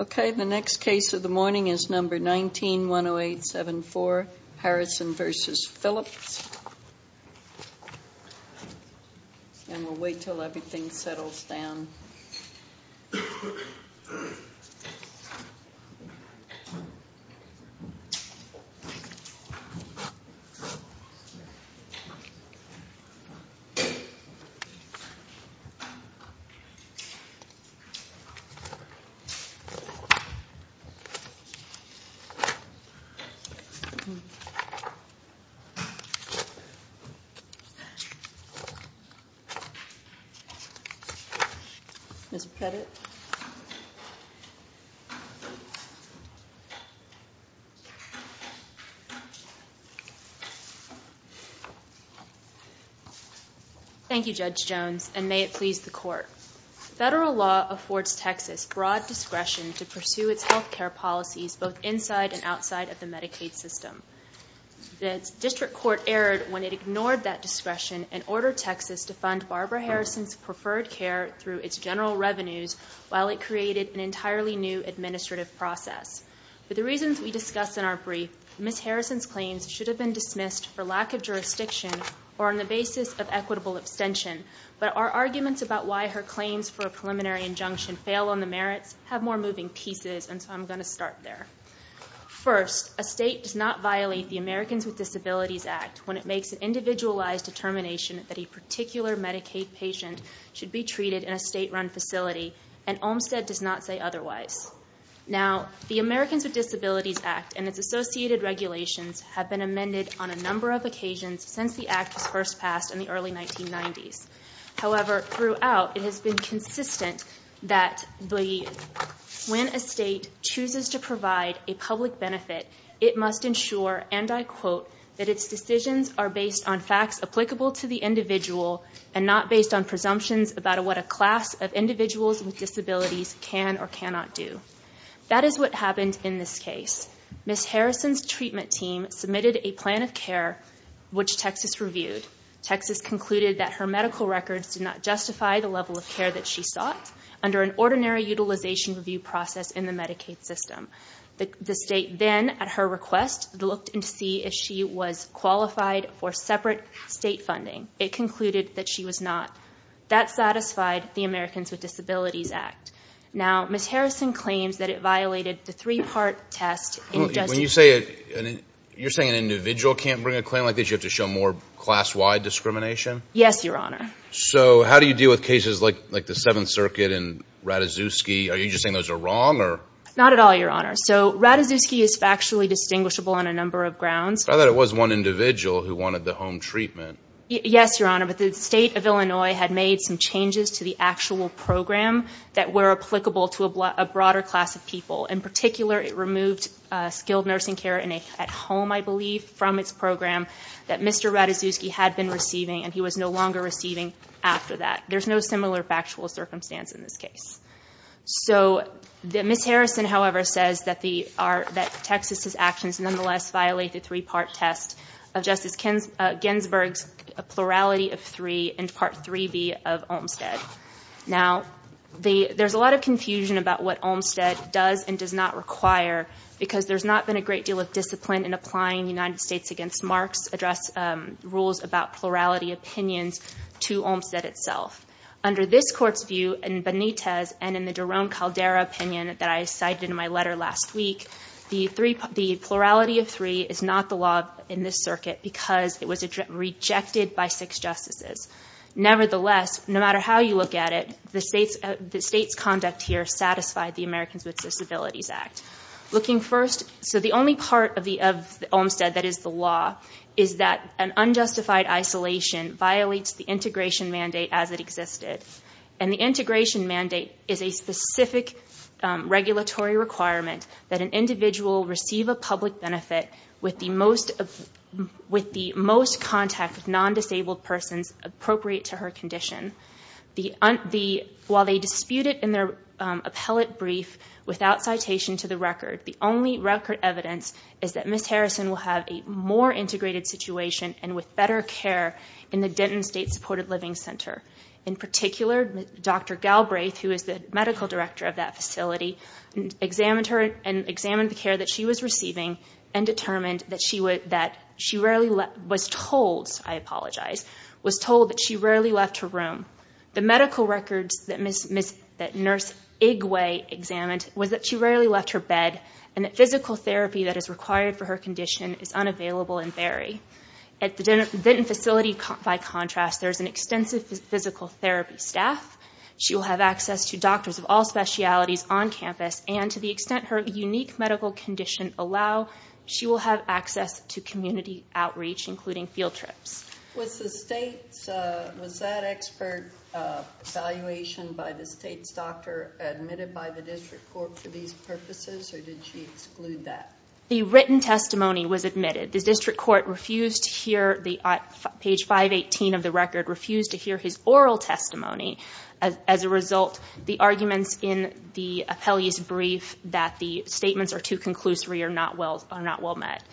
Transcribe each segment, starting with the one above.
Okay, the next case of the morning is number 19-10874, Harrison v. Phillips. And we'll wait until everything settles down. Mr. Pettit. Thank you, Judge Jones, and may it please the Court. Federal law affords Texas broad discretion to pursue its health care policies both inside and outside of the Medicaid system. The district court erred when it ignored that discretion and ordered Texas to fund Barbara Harrison's preferred care through its general revenues while it created an entirely new administrative process. For the reasons we discussed in our brief, Ms. Harrison's claims should have been dismissed for lack of jurisdiction or on the basis of equitable abstention. But our arguments about why her claims for a preliminary injunction fail on the merits have more moving pieces, and so I'm going to start there. First, a state does not violate the Americans with Disabilities Act when it makes an individualized determination that a particular Medicaid patient should be treated in a state-run facility, and Olmstead does not say otherwise. Now, the Americans with Disabilities Act and its associated regulations have been amended on a number of occasions since the Act was first passed in the early 1990s. However, throughout, it has been consistent that when a state chooses to provide a public benefit, it must ensure, and I quote, that its decisions are based on facts applicable to the individual and not based on presumptions about what a class of individuals with disabilities can or cannot do. That is what happened in this case. Ms. Harrison's treatment team submitted a plan of care, which Texas reviewed. Texas concluded that her medical records did not justify the level of care that she sought under an ordinary utilization review process in the Medicaid system. The state then, at her request, looked to see if she was qualified for separate state funding. It concluded that she was not. That satisfied the Americans with Disabilities Act. Now, Ms. Harrison claims that it violated the three-part test in just— You're saying an individual can't bring a claim like this? You have to show more class-wide discrimination? Yes, Your Honor. So, how do you deal with cases like the Seventh Circuit and Ratajkowski? Are you just saying those are wrong, or—? Not at all, Your Honor. So, Ratajkowski is factually distinguishable on a number of grounds. I thought it was one individual who wanted the home treatment. Yes, Your Honor, but the state of Illinois had made some changes to the actual program that were applicable to a broader class of people. In particular, it removed skilled nursing care at home, I believe, from its program that Mr. Ratajkowski had been receiving, and he was no longer receiving after that. There's no similar factual circumstance in this case. So, Ms. Harrison, however, says that Texas's actions nonetheless violate the three-part test of Justice Ginsburg's plurality of three and Part 3B of Olmstead. Now, there's a lot of confusion about what Olmstead does and does not require, because there's not been a great deal of discipline in applying United States v. Marx's rules about plurality opinions to Olmstead itself. Under this Court's view in Benitez and in the Jerome Caldera opinion that I cited in my letter last week, the plurality of three is not the law in this circuit because it was rejected by six justices. Nevertheless, no matter how you look at it, the state's conduct here satisfied the Americans with Disabilities Act. Looking first, so the only part of Olmstead that is the law is that an unjustified isolation violates the integration mandate as it existed. And the integration mandate is a specific regulatory requirement that an individual receive a public benefit with the most contact with non-disabled persons appropriate to her condition. While they dispute it in their appellate brief without citation to the record, the only record evidence is that Ms. Harrison will have a more integrated situation and with better care in the Denton State Supported Living Center. In particular, Dr. Galbraith, who is the medical director of that facility, examined her and examined the care that she was receiving and determined that she was told that she rarely left her room. The medical records that Nurse Igwe examined was that she rarely left her bed and that physical therapy that is required for her condition is unavailable in Berry. At the Denton facility, by contrast, there is an extensive physical therapy staff. She will have access to doctors of all specialties on campus, and to the extent her unique medical condition allow, she will have access to community outreach, including field trips. Was that expert evaluation by the state's doctor admitted by the district court for these purposes, or did she exclude that? The written testimony was admitted. The district court, page 518 of the record, refused to hear his oral testimony. As a result, the arguments in the appellee's brief that the statements are too conclusory are not well met.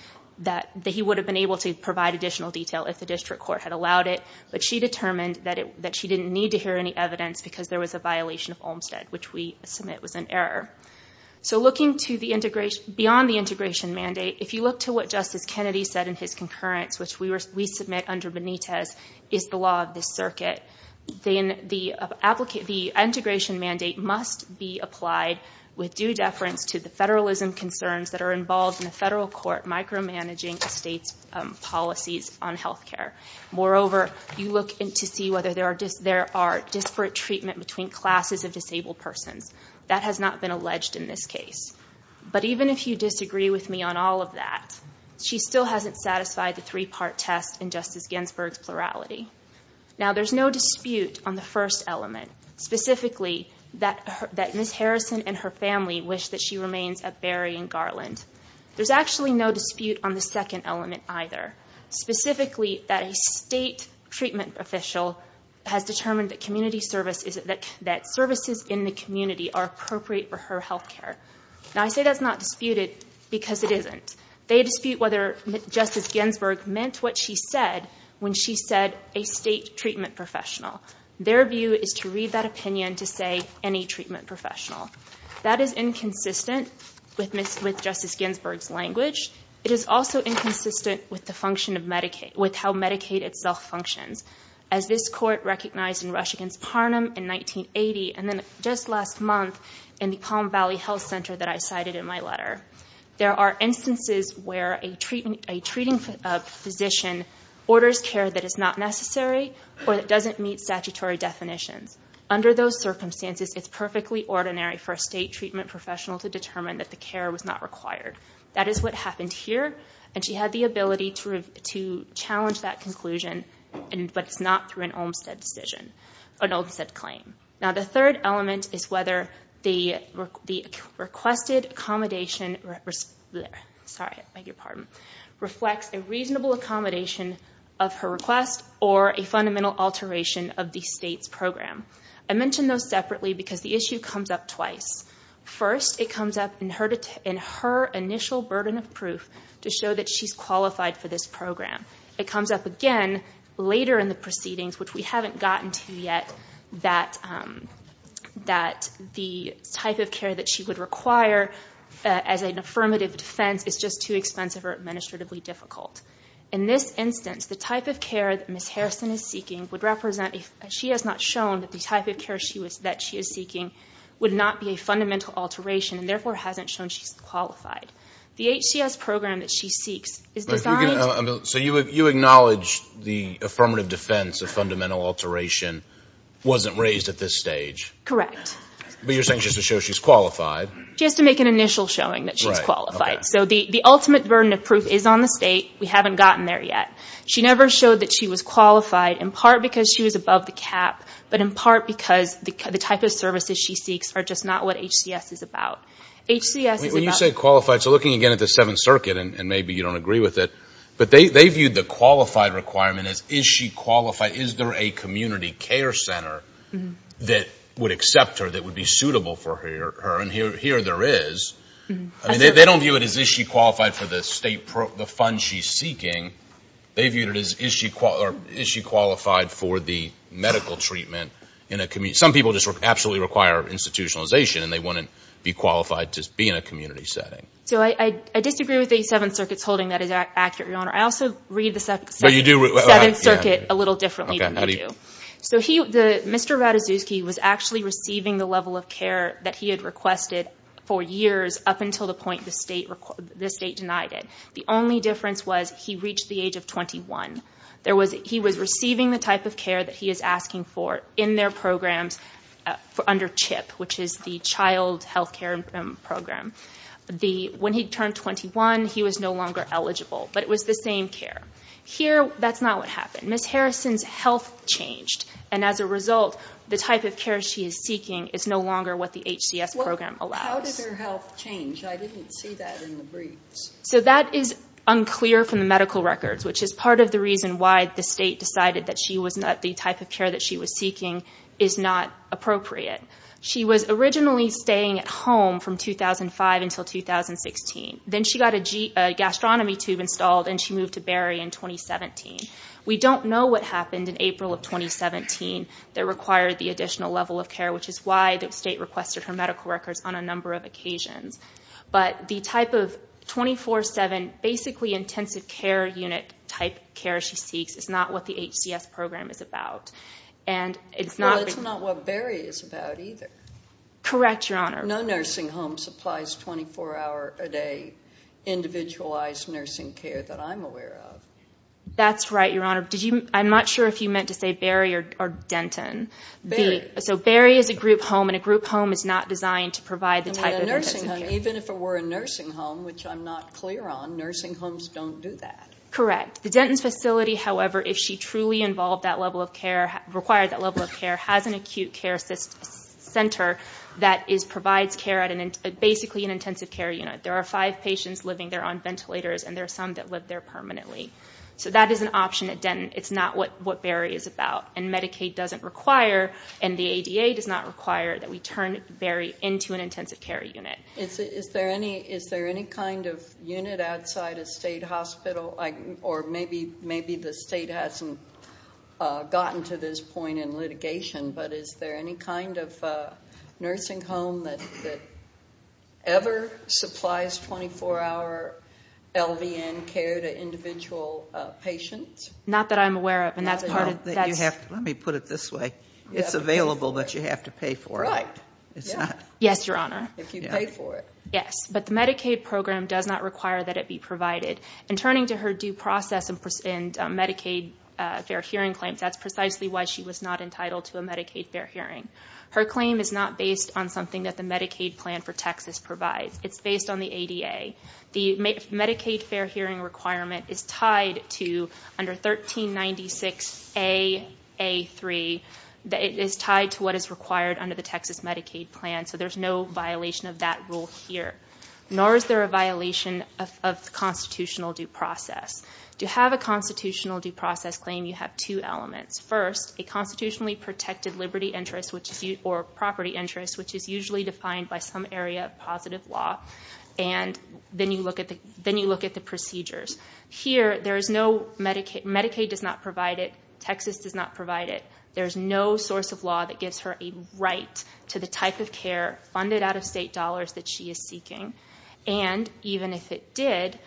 He would have been able to provide additional detail if the district court had allowed it, but she determined that she didn't need to hear any evidence because there was a violation of Olmstead, which we submit was an error. Beyond the integration mandate, if you look to what Justice Kennedy said in his concurrence, which we submit under Benitez, is the law of this circuit, then the integration mandate must be applied with due deference to the federalism concerns that are involved in a federal court micromanaging a state's policies on health care. Moreover, you look to see whether there are disparate treatment between classes of disabled persons. That has not been alleged in this case. But even if you disagree with me on all of that, she still hasn't satisfied the three-part test in Justice Ginsburg's plurality. Now, there's no dispute on the first element, specifically that Ms. Harrison and her family wish that she remains a Berry and Garland. There's actually no dispute on the second element either, specifically that a state treatment official has determined that services in the community are appropriate for her health care. Now, I say that's not disputed because it isn't. They dispute whether Justice Ginsburg meant what she said when she said a state treatment professional. Their view is to read that opinion to say any treatment professional. That is inconsistent with Justice Ginsburg's language. It is also inconsistent with the function of Medicaid, with how Medicaid itself functions. As this court recognized in Rush v. Parnum in 1980 and then just last month in the Palm Valley Health Center that I cited in my letter, there are instances where a treating physician orders care that is not necessary or that doesn't meet statutory definitions. Under those circumstances, it's perfectly ordinary for a state treatment professional to determine that the care was not required. That is what happened here, and she had the ability to challenge that conclusion, but it's not through an Olmstead claim. Now, the third element is whether the requested accommodation reflects a reasonable accommodation of her request or a fundamental alteration of the state's program. I mention those separately because the issue comes up twice. First, it comes up in her initial burden of proof to show that she's qualified for this program. It comes up again later in the proceedings, which we haven't gotten to yet, that the type of care that she would require as an affirmative defense is just too expensive or administratively difficult. In this instance, the type of care that Ms. Harrison is seeking would represent, she has not shown that the type of care that she is seeking would not be a fundamental alteration and therefore hasn't shown she's qualified. The HCS program that she seeks is designed... So you acknowledge the affirmative defense of fundamental alteration wasn't raised at this stage? Correct. But you're saying just to show she's qualified. She has to make an initial showing that she's qualified. So the ultimate burden of proof is on the state. We haven't gotten there yet. She never showed that she was qualified, in part because she was above the cap, but in part because the type of services she seeks are just not what HCS is about. HCS is about... When you say qualified, so looking again at the Seventh Circuit, and maybe you don't agree with it, but they viewed the qualified requirement as, is she qualified? Is there a community care center that would accept her, that would be suitable for her, and here there is. They don't view it as, is she qualified for the funds she's seeking? They viewed it as, is she qualified for the medical treatment? Some people just absolutely require institutionalization, and they wouldn't be qualified to be in a community setting. So I disagree with the Seventh Circuit's holding that is accurate, Your Honor. I also read the Seventh Circuit a little differently than you do. Mr. Ratajkowski was actually receiving the level of care that he had requested for years, up until the point the state denied it. The only difference was he reached the age of 21. He was receiving the type of care that he is asking for in their programs under CHIP, which is the child health care program. When he turned 21, he was no longer eligible, but it was the same care. Here, that's not what happened. Ms. Harrison's health changed, and as a result, the type of care she is seeking is no longer what the HCS program allows. How did her health change? I didn't see that in the briefs. So that is unclear from the medical records, which is part of the reason why the state decided that the type of care that she was seeking is not appropriate. She was originally staying at home from 2005 until 2016. Then she got a gastronomy tube installed, and she moved to Berry in 2017. We don't know what happened in April of 2017 that required the additional level of care, which is why the state requested her medical records on a number of occasions. But the type of 24-7, basically intensive care unit type care she seeks is not what the HCS program is about. Well, that's not what Berry is about either. Correct, Your Honor. No nursing home supplies 24-hour-a-day individualized nursing care that I'm aware of. That's right, Your Honor. I'm not sure if you meant to say Berry or Denton. Berry. So Berry is a group home, and a group home is not designed to provide the type of intensive care. Even if it were a nursing home, which I'm not clear on, nursing homes don't do that. Correct. The Denton facility, however, if she truly required that level of care, has an acute care center that provides care at basically an intensive care unit. There are five patients living there on ventilators, and there are some that live there permanently. So that is an option at Denton. It's not what Berry is about, and Medicaid doesn't require, and the ADA does not require that we turn Berry into an intensive care unit. Is there any kind of unit outside a state hospital, or maybe the state hasn't gotten to this point in litigation, but is there any kind of nursing home that ever supplies 24-hour LVN care to individual patients? Not that I'm aware of, and that's part of that. Let me put it this way. It's available, but you have to pay for it. Right. Yes, Your Honor. If you pay for it. Yes, but the Medicaid program does not require that it be provided, and turning to her due process and Medicaid fair hearing claims, that's precisely why she was not entitled to a Medicaid fair hearing. Her claim is not based on something that the Medicaid plan for Texas provides. It's based on the ADA. The Medicaid fair hearing requirement is tied to under 1396A.A.3. It is tied to what is required under the Texas Medicaid plan, so there's no violation of that rule here, nor is there a violation of the constitutional due process. To have a constitutional due process claim, you have two elements. First, a constitutionally protected liberty interest or property interest, which is usually defined by some area of positive law, and then you look at the procedures. Here, Medicaid does not provide it. Texas does not provide it. There's no source of law that gives her a right to the type of care, funded out-of-state dollars that she is seeking, and even if it did,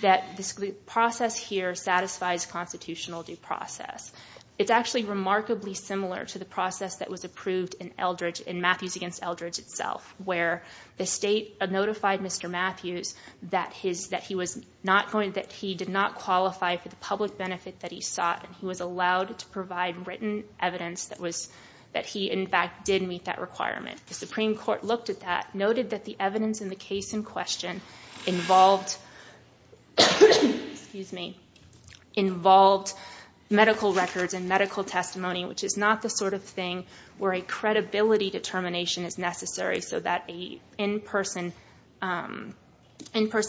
that the process here satisfies constitutional due process. It's actually remarkably similar to the process that was approved in Matthews v. Eldredge itself, where the state notified Mr. Matthews that he did not qualify for the public benefit that he sought, and he was allowed to provide written evidence that he, in fact, did meet that requirement. The Supreme Court looked at that, noted that the evidence in the case in question involved medical records and medical testimony, which is not the sort of thing where a credibility determination is necessary so that an in-person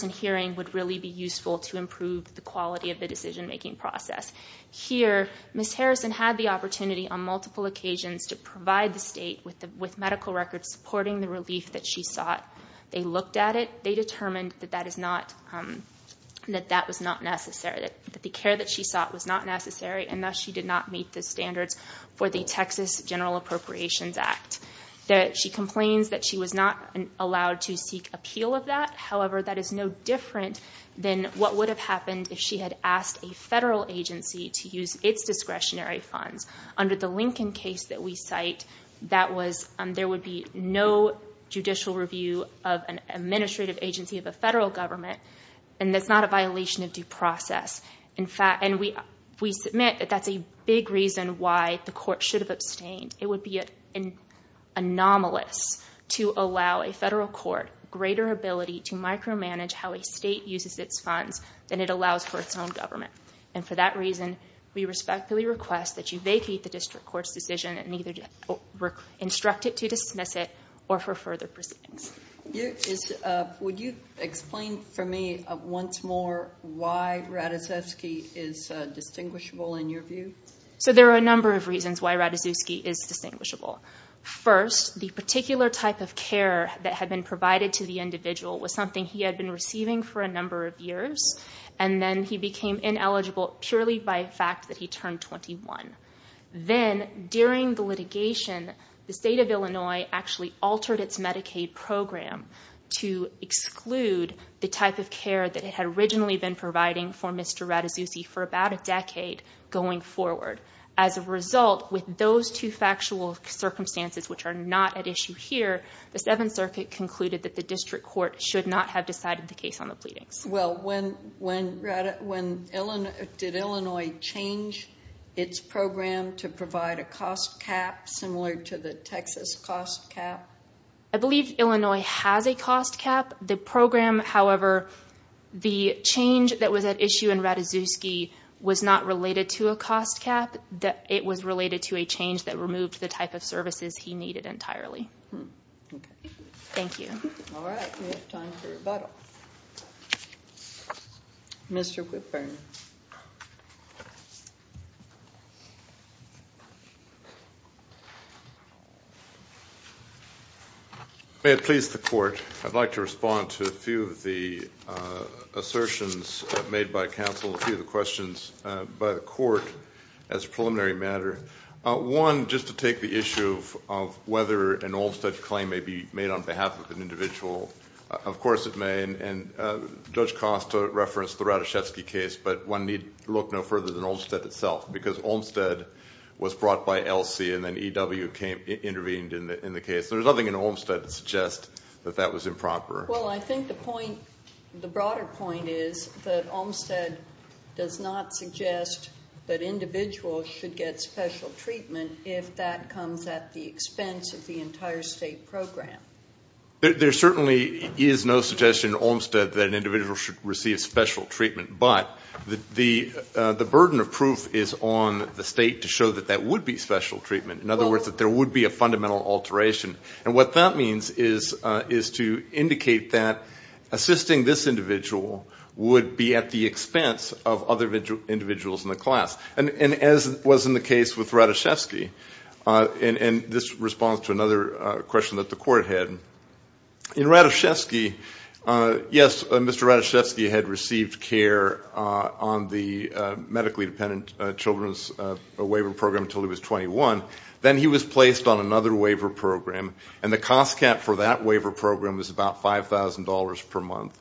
hearing would really be useful to improve the quality of the decision-making process. Here, Ms. Harrison had the opportunity on multiple occasions to provide the state with medical records supporting the relief that she sought. They looked at it. They determined that that was not necessary, that the care that she sought was not necessary, and thus she did not meet the standards for the Texas General Appropriations Act. She complains that she was not allowed to seek appeal of that. However, that is no different than what would have happened if she had asked a federal agency to use its discretionary funds. Under the Lincoln case that we cite, there would be no judicial review of an administrative agency of a federal government, and that's not a violation of due process. We submit that that's a big reason why the court should have abstained. It would be anomalous to allow a federal court greater ability to micromanage how a state uses its funds than it allows for its own government. And for that reason, we respectfully request that you vacate the district court's decision and either instruct it to dismiss it or for further proceedings. Would you explain for me once more why Rataszewski is distinguishable in your view? There are a number of reasons why Rataszewski is distinguishable. First, the particular type of care that had been provided to the individual was something he had been receiving for a number of years, and then he became ineligible purely by the fact that he turned 21. Then, during the litigation, the state of Illinois actually altered its Medicaid program to exclude the type of care that it had originally been providing for Mr. Rataszewski for about a decade going forward. As a result, with those two factual circumstances, which are not at issue here, the Seventh Circuit concluded that the district court should not have decided the case on the pleadings. Well, did Illinois change its program to provide a cost cap similar to the Texas cost cap? I believe Illinois has a cost cap. The program, however, the change that was at issue in Rataszewski was not related to a cost cap. It was related to a change that removed the type of services he needed entirely. Thank you. All right. We have time for rebuttal. Mr. Whitburn. Thank you. May it please the Court, I'd like to respond to a few of the assertions made by counsel and a few of the questions by the Court as a preliminary matter. One, just to take the issue of whether an Olmstead claim may be made on behalf of an individual. Of course it may, and Judge Costa referenced the Rataszewski case, but one need look no further than Olmstead itself, because Olmstead was brought by Elsie and then E.W. intervened in the case. There's nothing in Olmstead that suggests that that was improper. Well, I think the point, the broader point is that Olmstead does not suggest that individuals should get special treatment if that comes at the expense of the entire state program. There certainly is no suggestion in Olmstead that an individual should receive special treatment, but the burden of proof is on the state to show that that would be special treatment. In other words, that there would be a fundamental alteration. And what that means is to indicate that assisting this individual would be at the expense of other individuals in the class. And as was in the case with Rataszewski, and this responds to another question that the court had. In Rataszewski, yes, Mr. Rataszewski had received care on the medically dependent children's waiver program until he was 21. Then he was placed on another waiver program, and the cost cap for that waiver program was about $5,000 per month.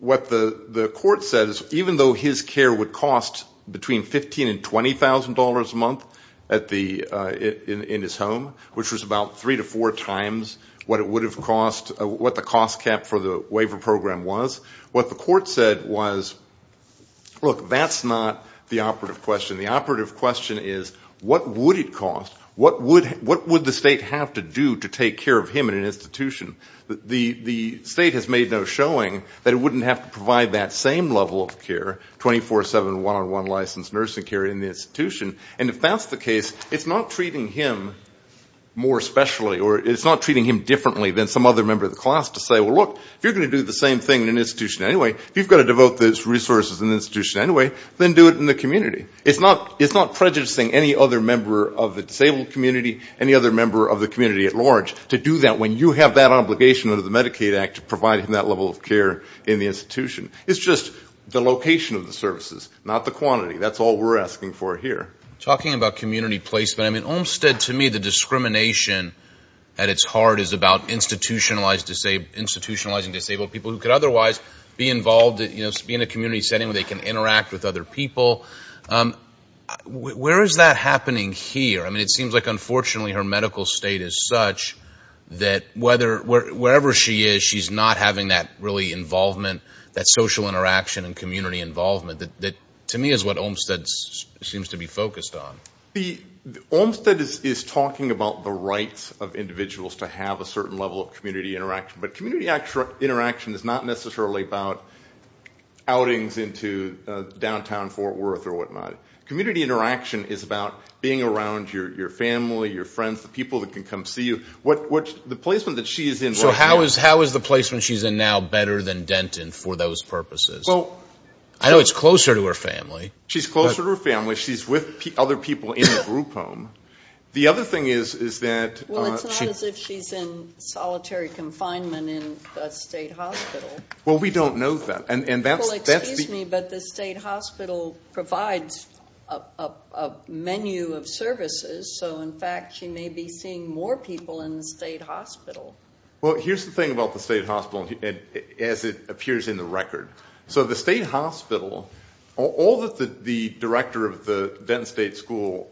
What the court says, even though his care would cost between $15,000 and $20,000 a month in his home, which was about three to four times what it would have cost, what the cost cap for the waiver program was, what the court said was, look, that's not the operative question. The operative question is, what would it cost? What would the state have to do to take care of him in an institution? The state has made no showing that it wouldn't have to provide that same level of care, 24-7 one-on-one licensed nursing care in the institution. And if that's the case, it's not treating him more specially, or it's not treating him differently than some other member of the class to say, well, look, if you're going to do the same thing in an institution anyway, if you've got to devote those resources in an institution anyway, then do it in the community. It's not prejudicing any other member of the disabled community, any other member of the community at large, to do that when you have that obligation under the Medicaid Act to provide him that level of care in the institution. It's just the location of the services, not the quantity. That's all we're asking for here. Talking about community placement, I mean, Olmstead, to me, the discrimination at its heart is about institutionalizing disabled people who could otherwise be involved, be in a community setting where they can interact with other people. Where is that happening here? I mean, it seems like, unfortunately, her medical state is such that wherever she is, she's not having that really involvement, that social interaction and community involvement, that to me is what Olmstead seems to be focused on. Olmstead is talking about the rights of individuals to have a certain level of community interaction, but community interaction is not necessarily about outings into downtown Fort Worth or whatnot. Community interaction is about being around your family, your friends, the people that can come see you. The placement that she is in right now. So how is the placement she's in now better than Denton for those purposes? I know it's closer to her family. She's closer to her family. She's with other people in a group home. The other thing is that she's in solitary confinement in a state hospital. Well, we don't know that. Well, excuse me, but the state hospital provides a menu of services, so in fact she may be seeing more people in the state hospital. Well, here's the thing about the state hospital, as it appears in the record. So the state hospital, all that the director of the Denton State School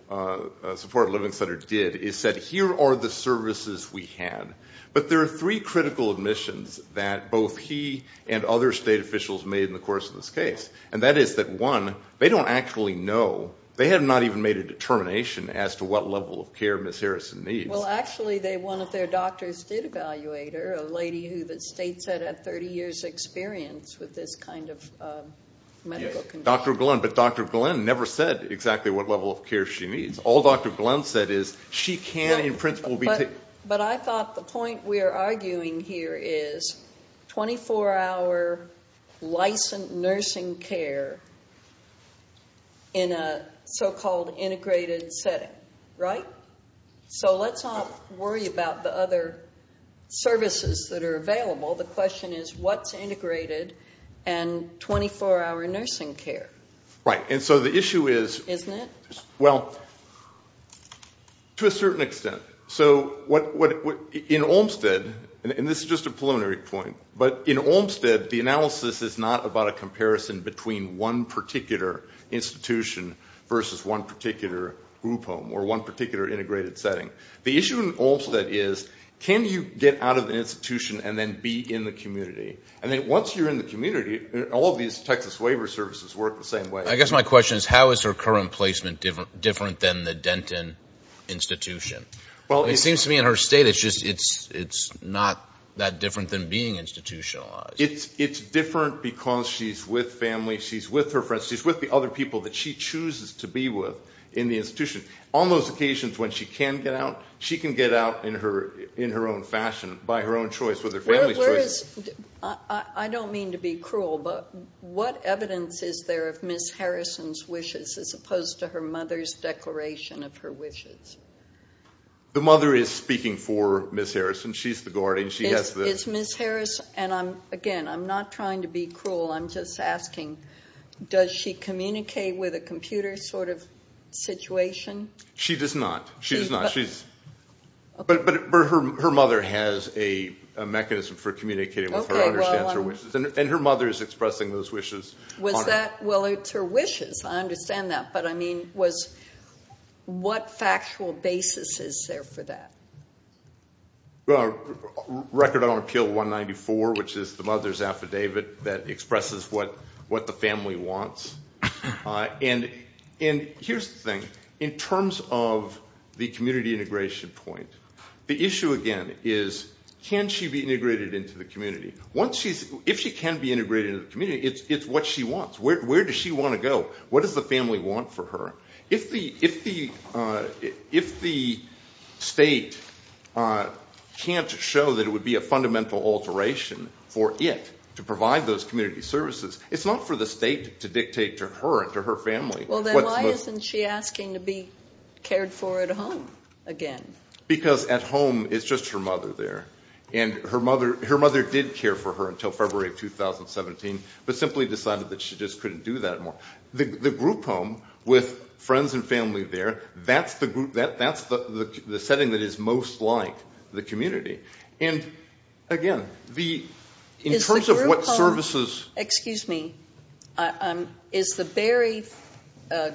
Support Living Center did is said, here are the services we have. But there are three critical admissions that both he and other state officials made in the course of this case, and that is that, one, they don't actually know. They have not even made a determination as to what level of care Ms. Harrison needs. Well, actually, one of their doctors did evaluate her, a lady who the state said had 30 years' experience with this kind of medical condition. Dr. Glenn, but Dr. Glenn never said exactly what level of care she needs. All Dr. Glenn said is she can, in principle, be taken. Right. But I thought the point we're arguing here is 24-hour licensed nursing care in a so-called integrated setting, right? So let's not worry about the other services that are available. The question is what's integrated and 24-hour nursing care. Right. And so the issue is to a certain extent. So in Olmstead, and this is just a preliminary point, but in Olmstead the analysis is not about a comparison between one particular institution versus one particular group home or one particular integrated setting. The issue in Olmstead is can you get out of an institution and then be in the community? And then once you're in the community, all of these Texas waiver services work the same way. I guess my question is how is her current placement different than the Denton institution? It seems to me in her state it's not that different than being institutionalized. It's different because she's with family, she's with her friends, she's with the other people that she chooses to be with in the institution. On those occasions when she can get out, she can get out in her own fashion, by her own choice, with her family's choice. I don't mean to be cruel, but what evidence is there of Ms. Harrison's wishes as opposed to her mother's declaration of her wishes? The mother is speaking for Ms. Harrison. She's the guardian. It's Ms. Harrison, and again, I'm not trying to be cruel. I'm just asking, does she communicate with a computer sort of situation? She does not. She does not, but her mother has a mechanism for communicating with her and understands her wishes, and her mother is expressing those wishes. Was that? Well, it's her wishes. I understand that, but I mean, what factual basis is there for that? Record on Appeal 194, which is the mother's affidavit that expresses what the family wants. And here's the thing. In terms of the community integration point, the issue, again, is can she be integrated into the community? If she can be integrated into the community, it's what she wants. Where does she want to go? What does the family want for her? If the state can't show that it would be a fundamental alteration for it to provide those community services, it's not for the state to dictate to her and to her family. Well, then why isn't she asking to be cared for at home again? Because at home, it's just her mother there, and her mother did care for her until February of 2017, but simply decided that she just couldn't do that anymore. The group home with friends and family there, that's the setting that is most like the community. And, again, in terms of what services – Excuse me. Is the Berry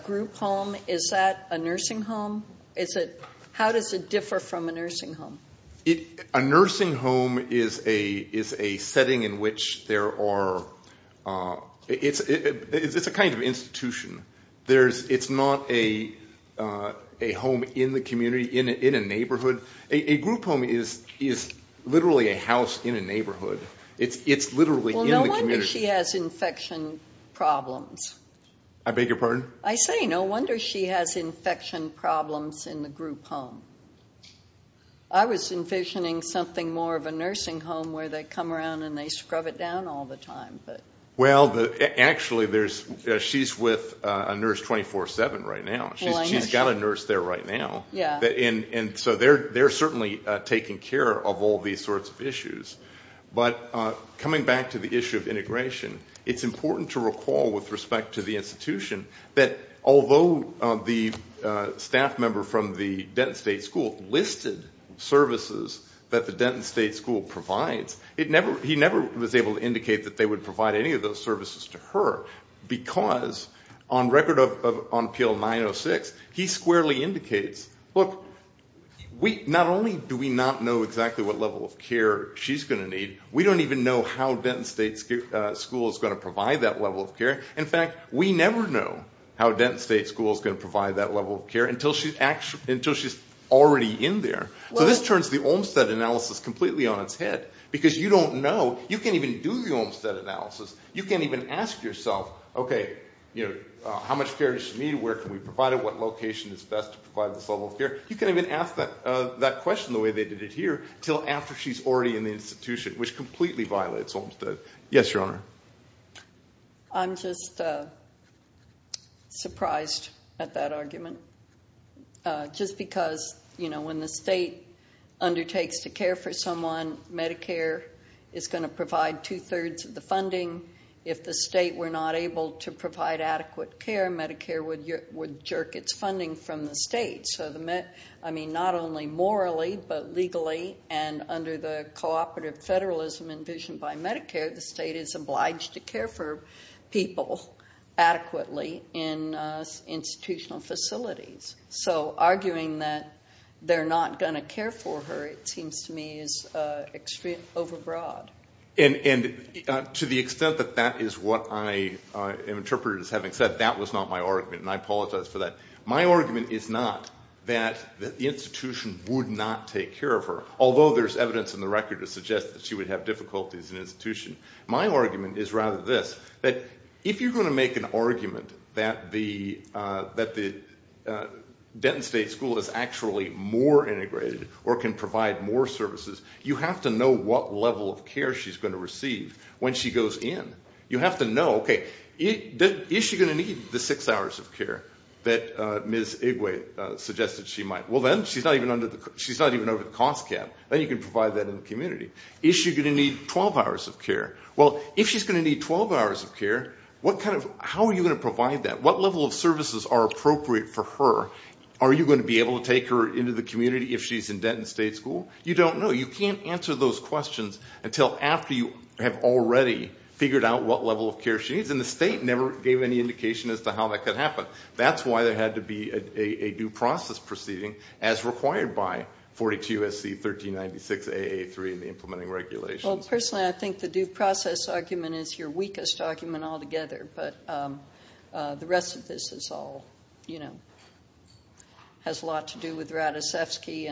group home, is that a nursing home? How does it differ from a nursing home? A nursing home is a setting in which there are – it's a kind of institution. It's not a home in the community, in a neighborhood. A group home is literally a house in a neighborhood. It's literally in the community. Well, no wonder she has infection problems. I beg your pardon? I say no wonder she has infection problems in the group home. I was envisioning something more of a nursing home where they come around and they scrub it down all the time. Well, actually, she's with a nurse 24-7 right now. She's got a nurse there right now. And so they're certainly taking care of all these sorts of issues. But coming back to the issue of integration, it's important to recall with respect to the institution that although the staff member from the Denton State School listed services that the Denton State School provides, he never was able to indicate that they would provide any of those services to her because on record on PL906, he squarely indicates, look, not only do we not know exactly what level of care she's going to need, we don't even know how Denton State School is going to provide that level of care. In fact, we never know how Denton State School is going to provide that level of care until she's already in there. So this turns the Olmstead analysis completely on its head because you don't know. You can't even do the Olmstead analysis. You can't even ask yourself, okay, how much care does she need, where can we provide it, what location is best to provide this level of care. You can't even ask that question the way they did it here until after she's already in the institution, which completely violates Olmstead. Yes, Your Honor. I'm just surprised at that argument just because when the state undertakes to care for someone, Medicare is going to provide two-thirds of the funding. If the state were not able to provide adequate care, Medicare would jerk its funding from the state. So not only morally but legally and under the cooperative federalism envisioned by Medicare, the state is obliged to care for people adequately in institutional facilities. So arguing that they're not going to care for her, it seems to me, is extremely overbroad. And to the extent that that is what I interpreted as having said, that was not my argument, and I apologize for that. My argument is not that the institution would not take care of her, although there's evidence in the record to suggest that she would have difficulties in institution. My argument is rather this, that if you're going to make an argument that the Denton State School is actually more integrated or can provide more services, you have to know what level of care she's going to receive when she goes in. You have to know, okay, is she going to need the six hours of care that Ms. Igwe suggested she might? Well, then she's not even under the cost cap. Then you can provide that in the community. Is she going to need 12 hours of care? Well, if she's going to need 12 hours of care, how are you going to provide that? What level of services are appropriate for her? Are you going to be able to take her into the community if she's in Denton State School? You don't know. You can't answer those questions until after you have already figured out what level of care she needs, and the state never gave any indication as to how that could happen. That's why there had to be a due process proceeding as required by 42SC1396AA3 in the implementing regulations. Well, personally, I think the due process argument is your weakest argument altogether, but the rest of this has a lot to do with Radicevsky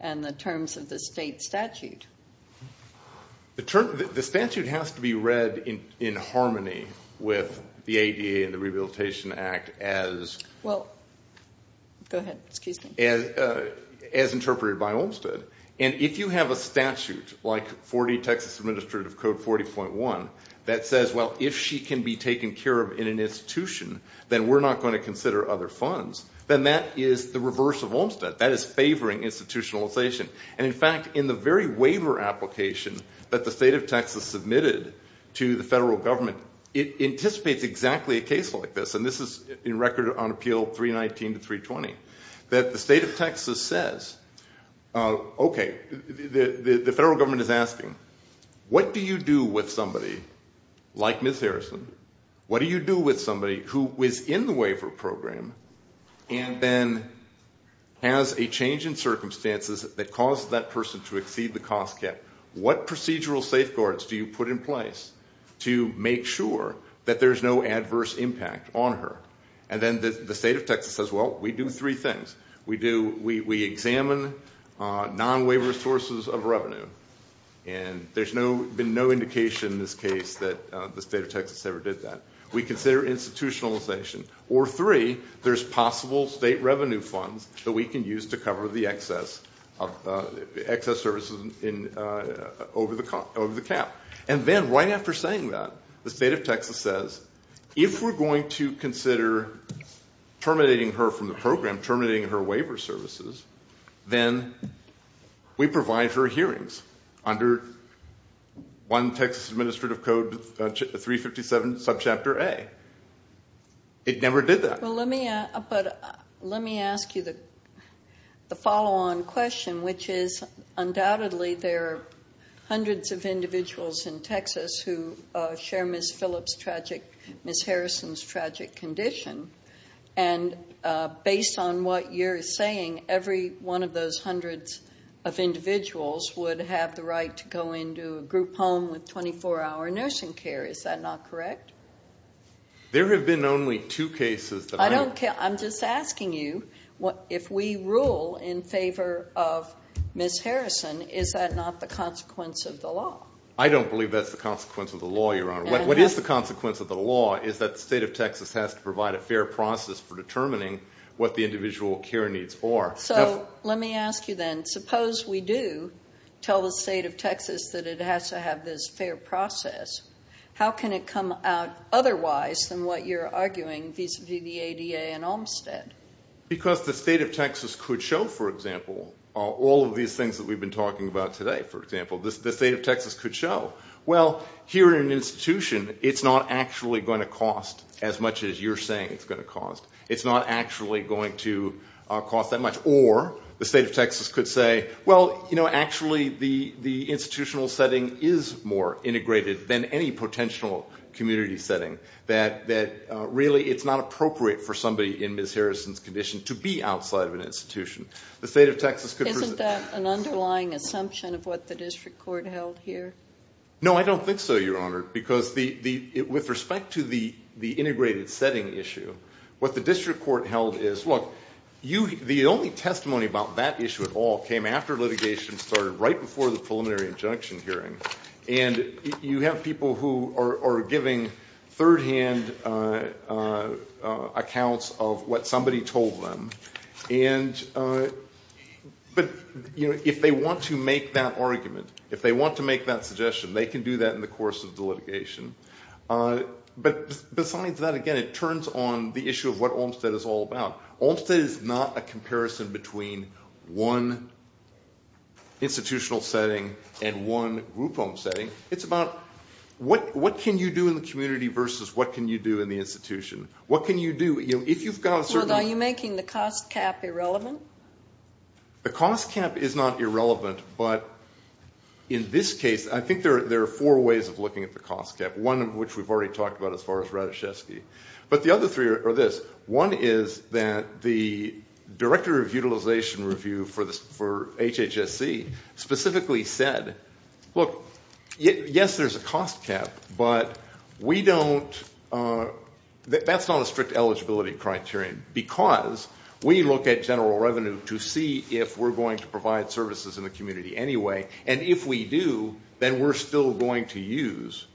and the terms of the state statute. The statute has to be read in harmony with the ADA and the Rehabilitation Act as interpreted by Olmstead, and if you have a statute like 40 Texas Administrative Code 40.1 that says, well, if she can be taken care of in an institution, then we're not going to consider other funds, then that is the reverse of Olmstead. That is favoring institutionalization. And, in fact, in the very waiver application that the state of Texas submitted to the federal government, it anticipates exactly a case like this, and this is in record on Appeal 319 to 320, that the state of Texas says, okay, the federal government is asking, what do you do with somebody like Ms. Harrison? What do you do with somebody who was in the waiver program and then has a change in circumstances that caused that person to exceed the cost cap? What procedural safeguards do you put in place to make sure that there's no adverse impact on her? And then the state of Texas says, well, we do three things. We examine non-waiver sources of revenue, and there's been no indication in this case that the state of Texas ever did that. We consider institutionalization. Or, three, there's possible state revenue funds that we can use to cover the excess services over the cap. And then, right after saying that, the state of Texas says, if we're going to consider terminating her from the program, terminating her waiver services, then we provide her hearings under one Texas Administrative Code 357, Subchapter A. It never did that. But let me ask you the follow-on question, which is, undoubtedly, there are hundreds of individuals in Texas who share Ms. Harrison's tragic condition. And based on what you're saying, every one of those hundreds of individuals would have the right to go into a group home with 24-hour nursing care. Is that not correct? There have been only two cases that I know of. I don't care. I'm just asking you, if we rule in favor of Ms. Harrison, is that not the consequence of the law? What is the consequence of the law is that the state of Texas has to provide a fair process for determining what the individual care needs are. So let me ask you then, suppose we do tell the state of Texas that it has to have this fair process, how can it come out otherwise than what you're arguing vis-a-vis the ADA and Olmstead? Because the state of Texas could show, for example, all of these things that we've been talking about today, for example. The state of Texas could show. Well, here in an institution, it's not actually going to cost as much as you're saying it's going to cost. It's not actually going to cost that much. Or the state of Texas could say, well, you know, actually the institutional setting is more integrated than any potential community setting, that really it's not appropriate for somebody in Ms. Harrison's condition to be outside of an institution. Isn't that an underlying assumption of what the district court held here? No, I don't think so, Your Honor. Because with respect to the integrated setting issue, what the district court held is, look, the only testimony about that issue at all came after litigation started, right before the preliminary injunction hearing. And you have people who are giving third-hand accounts of what somebody told them. But, you know, if they want to make that argument, if they want to make that suggestion, they can do that in the course of the litigation. But besides that, again, it turns on the issue of what Olmstead is all about. Olmstead is not a comparison between one institutional setting and one group home setting. It's about what can you do in the community versus what can you do in the institution. What can you do? Are you making the cost cap irrelevant? The cost cap is not irrelevant. But in this case, I think there are four ways of looking at the cost cap, one of which we've already talked about as far as Rataszewski. But the other three are this. One is that the Director of Utilization Review for HHSC specifically said, look, yes, there's a cost cap, but we don't – that's not a strict eligibility criterion, because we look at general revenue to see if we're going to provide services in the community anyway. And if we do, then we're still going to use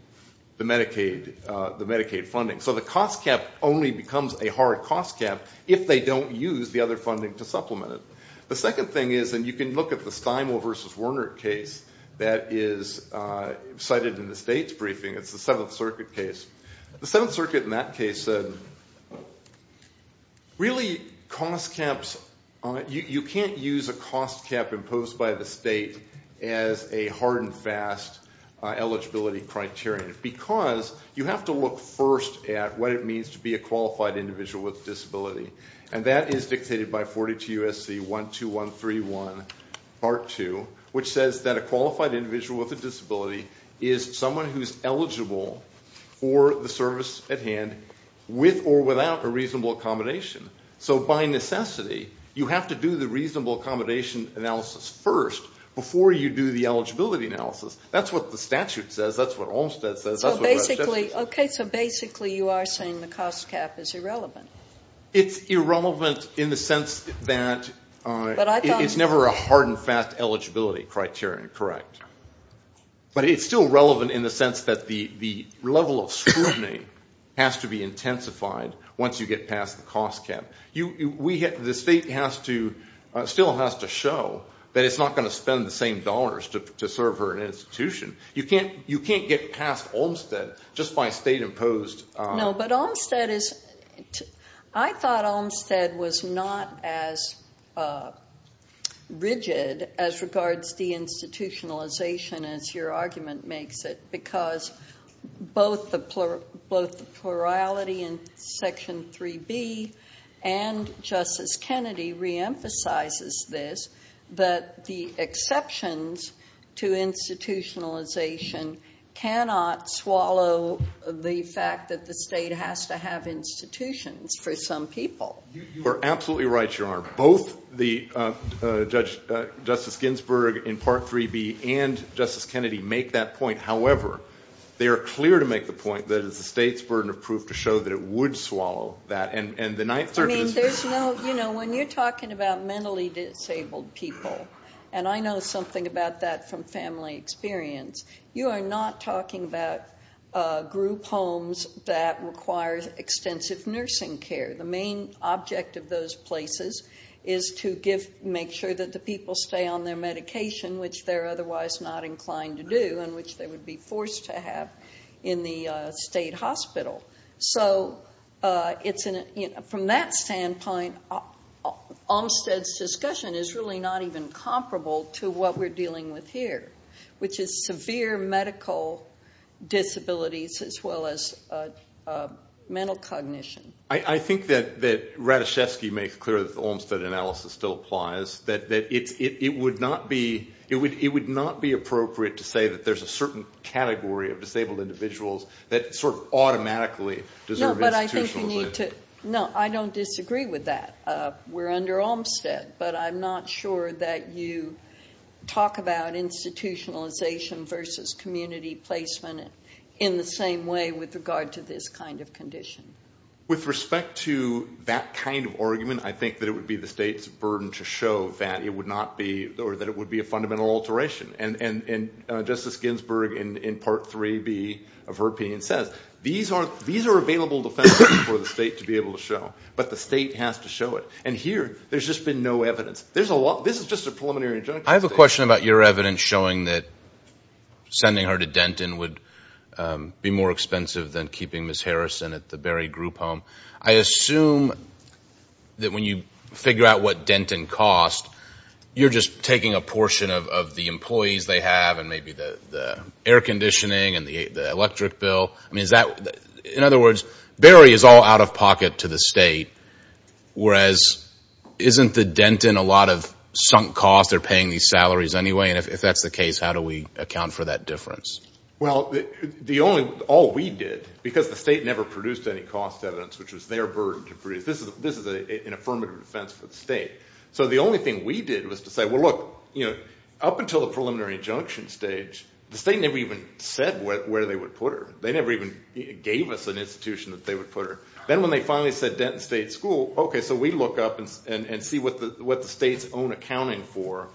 the Medicaid funding. So the cost cap only becomes a hard cost cap if they don't use the other funding to supplement it. The second thing is, and you can look at the Steinwall versus Werner case that is cited in the state's briefing. It's the Seventh Circuit case. The Seventh Circuit in that case said, really, cost caps – you can't use a cost cap imposed by the state as a hard and fast eligibility criterion, because you have to look first at what it means to be a qualified individual with a disability. And that is dictated by 42 U.S.C. 12131 Part 2, which says that a qualified individual with a disability is someone who's eligible for the service at hand with or without a reasonable accommodation. So by necessity, you have to do the reasonable accommodation analysis first before you do the eligibility analysis. That's what the statute says. That's what Olmstead says. That's what Rataszewski says. So basically – okay, so basically you are saying the cost cap is irrelevant. It's irrelevant in the sense that it's never a hard and fast eligibility criterion, correct. But it's still relevant in the sense that the level of scrutiny has to be intensified once you get past the cost cap. The state still has to show that it's not going to spend the same dollars to serve her institution. You can't get past Olmstead just by state-imposed – No, but Olmstead is – I thought Olmstead was not as rigid as regards deinstitutionalization as your argument makes it because both the plurality in Section 3B and Justice Kennedy reemphasizes this, but the exceptions to institutionalization cannot swallow the fact that the state has to have institutions for some people. You are absolutely right, Your Honor. Both Justice Ginsburg in Part 3B and Justice Kennedy make that point. However, they are clear to make the point that it's the state's burden of proof to show that it would swallow that. And the Ninth Circuit is – When you're talking about mentally disabled people, and I know something about that from family experience, you are not talking about group homes that require extensive nursing care. The main object of those places is to make sure that the people stay on their medication, which they're otherwise not inclined to do and which they would be forced to have in the state hospital. So from that standpoint, Olmstead's discussion is really not even comparable to what we're dealing with here, which is severe medical disabilities as well as mental cognition. I think that Rataschewski makes clear that the Olmstead analysis still applies, that it would not be appropriate to say that there's a certain category of disabled individuals that sort of automatically deserve institutionalization. No, but I think you need to – no, I don't disagree with that. We're under Olmstead, but I'm not sure that you talk about institutionalization versus community placement in the same way with regard to this kind of condition. With respect to that kind of argument, I think that it would be the state's burden to show that it would not be – or that it would be a fundamental alteration. And Justice Ginsburg, in Part 3B of her opinion, says these are available defenses for the state to be able to show, but the state has to show it. And here there's just been no evidence. There's a lot – this is just a preliminary injunction. I have a question about your evidence showing that sending her to Denton would be more expensive than keeping Ms. Harrison at the Berry Group home. I assume that when you figure out what Denton costs, you're just taking a portion of the employees they have and maybe the air conditioning and the electric bill. I mean, is that – in other words, Berry is all out of pocket to the state, whereas isn't the Denton a lot of sunk costs? They're paying these salaries anyway, and if that's the case, how do we account for that difference? Well, the only – all we did, because the state never produced any cost evidence, which was their burden to produce, this is an affirmative defense for the state. So the only thing we did was to say, well, look, up until the preliminary injunction stage, the state never even said where they would put her. They never even gave us an institution that they would put her. Then when they finally said Denton State School, okay, so we look up and see what the state's own accounting for,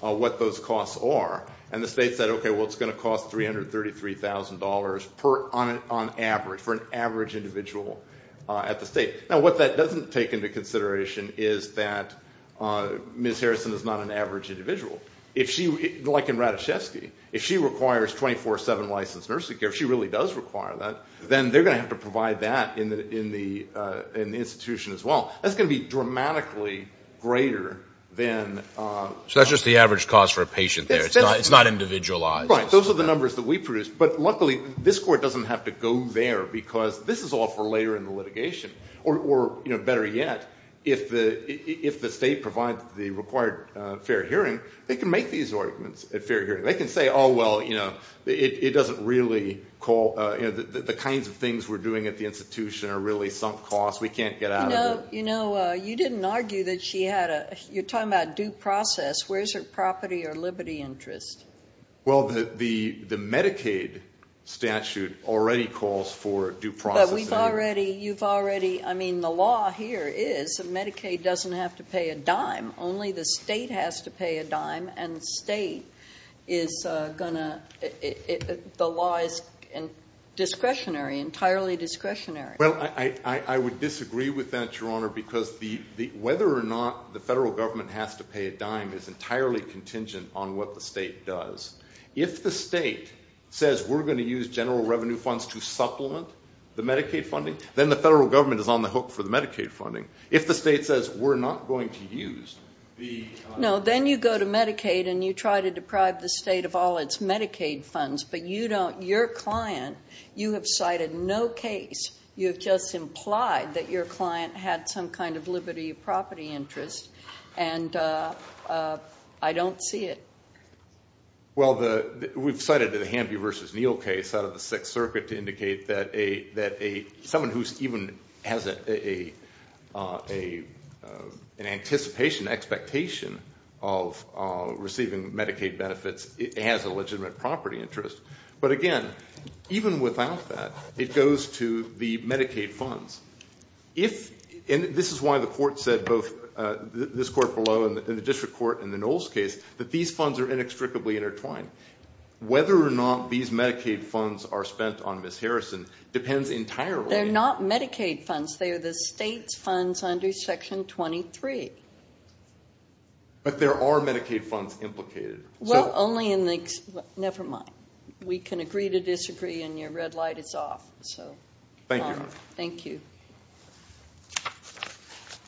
what those costs are. And the state said, okay, well, it's going to cost $333,000 on average for an average individual at the state. Now, what that doesn't take into consideration is that Ms. Harrison is not an average individual. If she – like in Ratajkowski, if she requires 24-7 licensed nursing care, if she really does require that, then they're going to have to provide that in the institution as well. That's going to be dramatically greater than – It's not individualized. Right. Those are the numbers that we produced. But luckily this court doesn't have to go there because this is all for later in the litigation. Or better yet, if the state provides the required fair hearing, they can make these arguments at fair hearing. They can say, oh, well, you know, it doesn't really call – the kinds of things we're doing at the institution are really sunk costs. We can't get out of it. You know, you didn't argue that she had a – you're talking about due process. Where is her property or liberty interest? Well, the Medicaid statute already calls for due process. But we've already – you've already – I mean, the law here is that Medicaid doesn't have to pay a dime. Only the state has to pay a dime, and the state is going to – the law is discretionary, entirely discretionary. Well, I would disagree with that, Your Honor, because whether or not the federal government has to pay a dime is entirely contingent on what the state does. If the state says we're going to use general revenue funds to supplement the Medicaid funding, then the federal government is on the hook for the Medicaid funding. If the state says we're not going to use the – No, then you go to Medicaid and you try to deprive the state of all its Medicaid funds, but you don't – You just implied that your client had some kind of liberty of property interest, and I don't see it. Well, we've cited the Hamby v. Neal case out of the Sixth Circuit to indicate that a – someone who even has an anticipation, expectation of receiving Medicaid benefits has a legitimate property interest. But again, even without that, it goes to the Medicaid funds. If – and this is why the court said, both this court below and the district court in the Knowles case, that these funds are inextricably intertwined. Whether or not these Medicaid funds are spent on Ms. Harrison depends entirely – They're not Medicaid funds. They are the state's funds under Section 23. But there are Medicaid funds implicated. Well, only in the – never mind. We can agree to disagree, and your red light is off. Thank you. Thank you.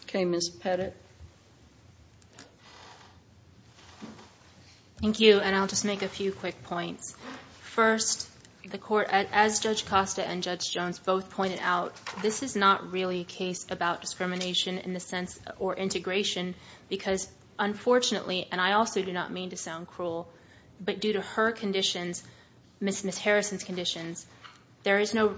Okay, Ms. Pettit. Thank you, and I'll just make a few quick points. First, the court – as Judge Costa and Judge Jones both pointed out, this is not really a case about discrimination in the sense – or integration, because unfortunately, and I also do not mean to sound cruel, but due to her conditions, Ms. Harrison's conditions, there is no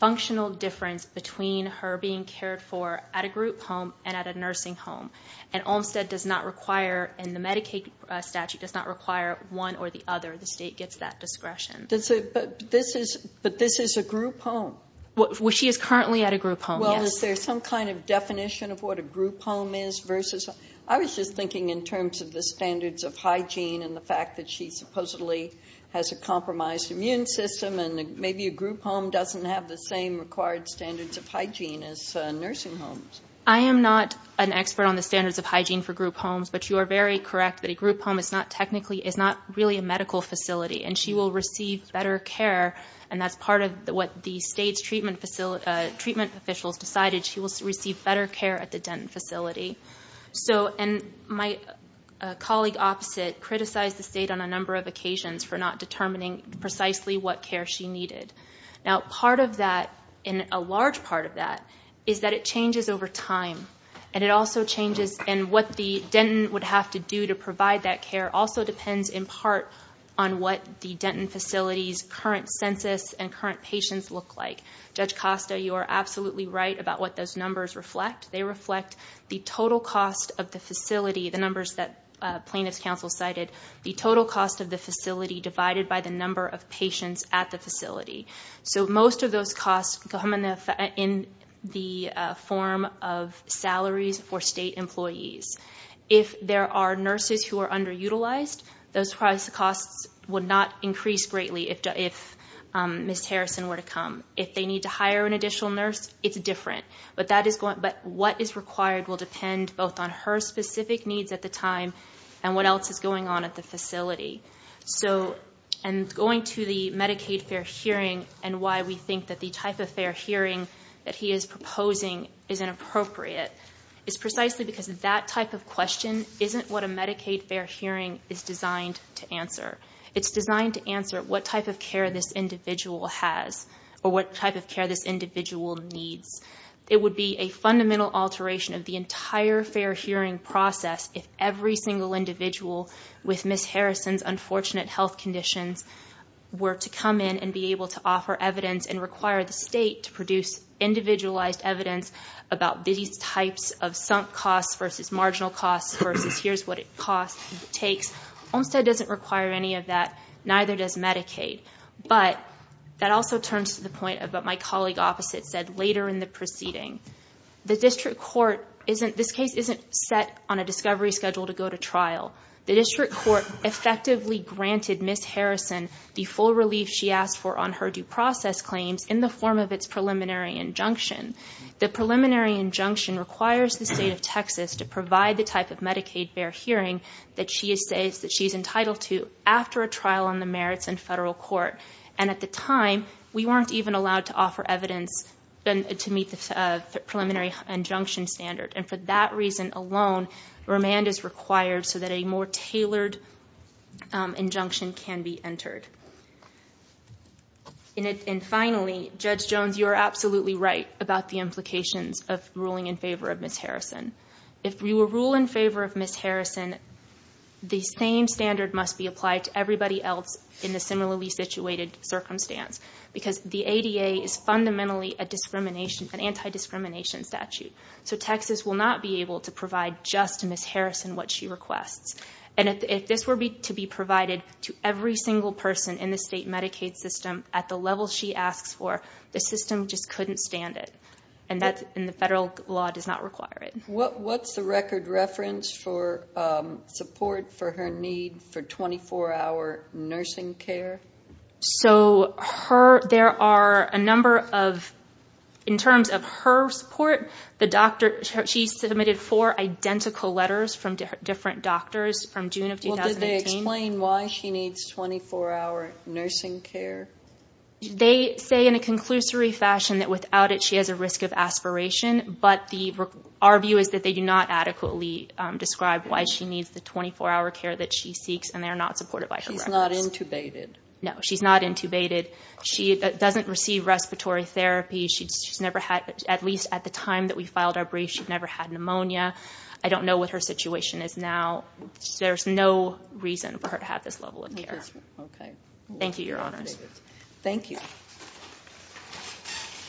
functional difference between her being cared for at a group home and at a nursing home. And Olmstead does not require – and the Medicaid statute does not require one or the other. The state gets that discretion. But this is a group home. Well, she is currently at a group home, yes. Well, is there some kind of definition of what a group home is versus – I was just thinking in terms of the standards of hygiene and the fact that she supposedly has a compromised immune system and maybe a group home doesn't have the same required standards of hygiene as nursing homes. I am not an expert on the standards of hygiene for group homes, but you are very correct that a group home is not technically – is not really a medical facility, and she will receive better care, and that's part of what the state's treatment officials decided. She will receive better care at the Denton facility. So – and my colleague opposite criticized the state on a number of occasions for not determining precisely what care she needed. Now, part of that, and a large part of that, is that it changes over time, and it also changes – and what the Denton would have to do to provide that care also depends in part on what the Denton facility's current census and current patients look like. Judge Costa, you are absolutely right about what those numbers reflect. They reflect the total cost of the facility, the numbers that plaintiff's counsel cited, the total cost of the facility divided by the number of patients at the facility. So most of those costs come in the form of salaries for state employees. If there are nurses who are underutilized, those costs would not increase greatly if Ms. Harrison were to come. If they need to hire an additional nurse, it's different. But that is going – but what is required will depend both on her specific needs at the time and what else is going on at the facility. So – and going to the Medicaid fair hearing and why we think that the type of fair hearing that he is proposing is inappropriate is precisely because that type of question isn't what a Medicaid fair hearing is designed to answer. It's designed to answer what type of care this individual has or what type of care this individual needs. It would be a fundamental alteration of the entire fair hearing process if every single individual with Ms. Harrison's unfortunate health conditions were to come in and be able to offer evidence and require the state to produce individualized evidence about these types of sunk costs versus marginal costs versus here's what it takes. Olmstead doesn't require any of that. Neither does Medicaid. But that also turns to the point of what my colleague opposite said later in the proceeding. The district court isn't – this case isn't set on a discovery schedule to go to trial. The district court effectively granted Ms. Harrison the full relief she asked for on her due process claims in the form of its preliminary injunction. The preliminary injunction requires the state of Texas to provide the type of Medicaid fair hearing that she is entitled to after a trial on the merits in federal court. And at the time, we weren't even allowed to offer evidence to meet the preliminary injunction standard. And for that reason alone, remand is required so that a more tailored injunction can be entered. And finally, Judge Jones, you are absolutely right about the implications of ruling in favor of Ms. Harrison. If we will rule in favor of Ms. Harrison, the same standard must be applied to everybody else in the similarly situated circumstance because the ADA is fundamentally a discrimination – an anti-discrimination statute. So Texas will not be able to provide just to Ms. Harrison what she requests. And if this were to be provided to every single person in the state Medicaid system at the level she asks for, the system just couldn't stand it. And the federal law does not require it. What's the record reference for support for her need for 24-hour nursing care? So there are a number of – in terms of her support, she submitted four identical letters from different doctors from June of 2018. Well, did they explain why she needs 24-hour nursing care? They say in a conclusory fashion that without it, she has a risk of aspiration. But our view is that they do not adequately describe why she needs the 24-hour care that she seeks, and they are not supported by her records. She's not intubated? No, she's not intubated. She doesn't receive respiratory therapy. She's never had – at least at the time that we filed our brief, she's never had pneumonia. I don't know what her situation is now. There's no reason for her to have this level of care. Okay. Thank you, Your Honors. Thank you.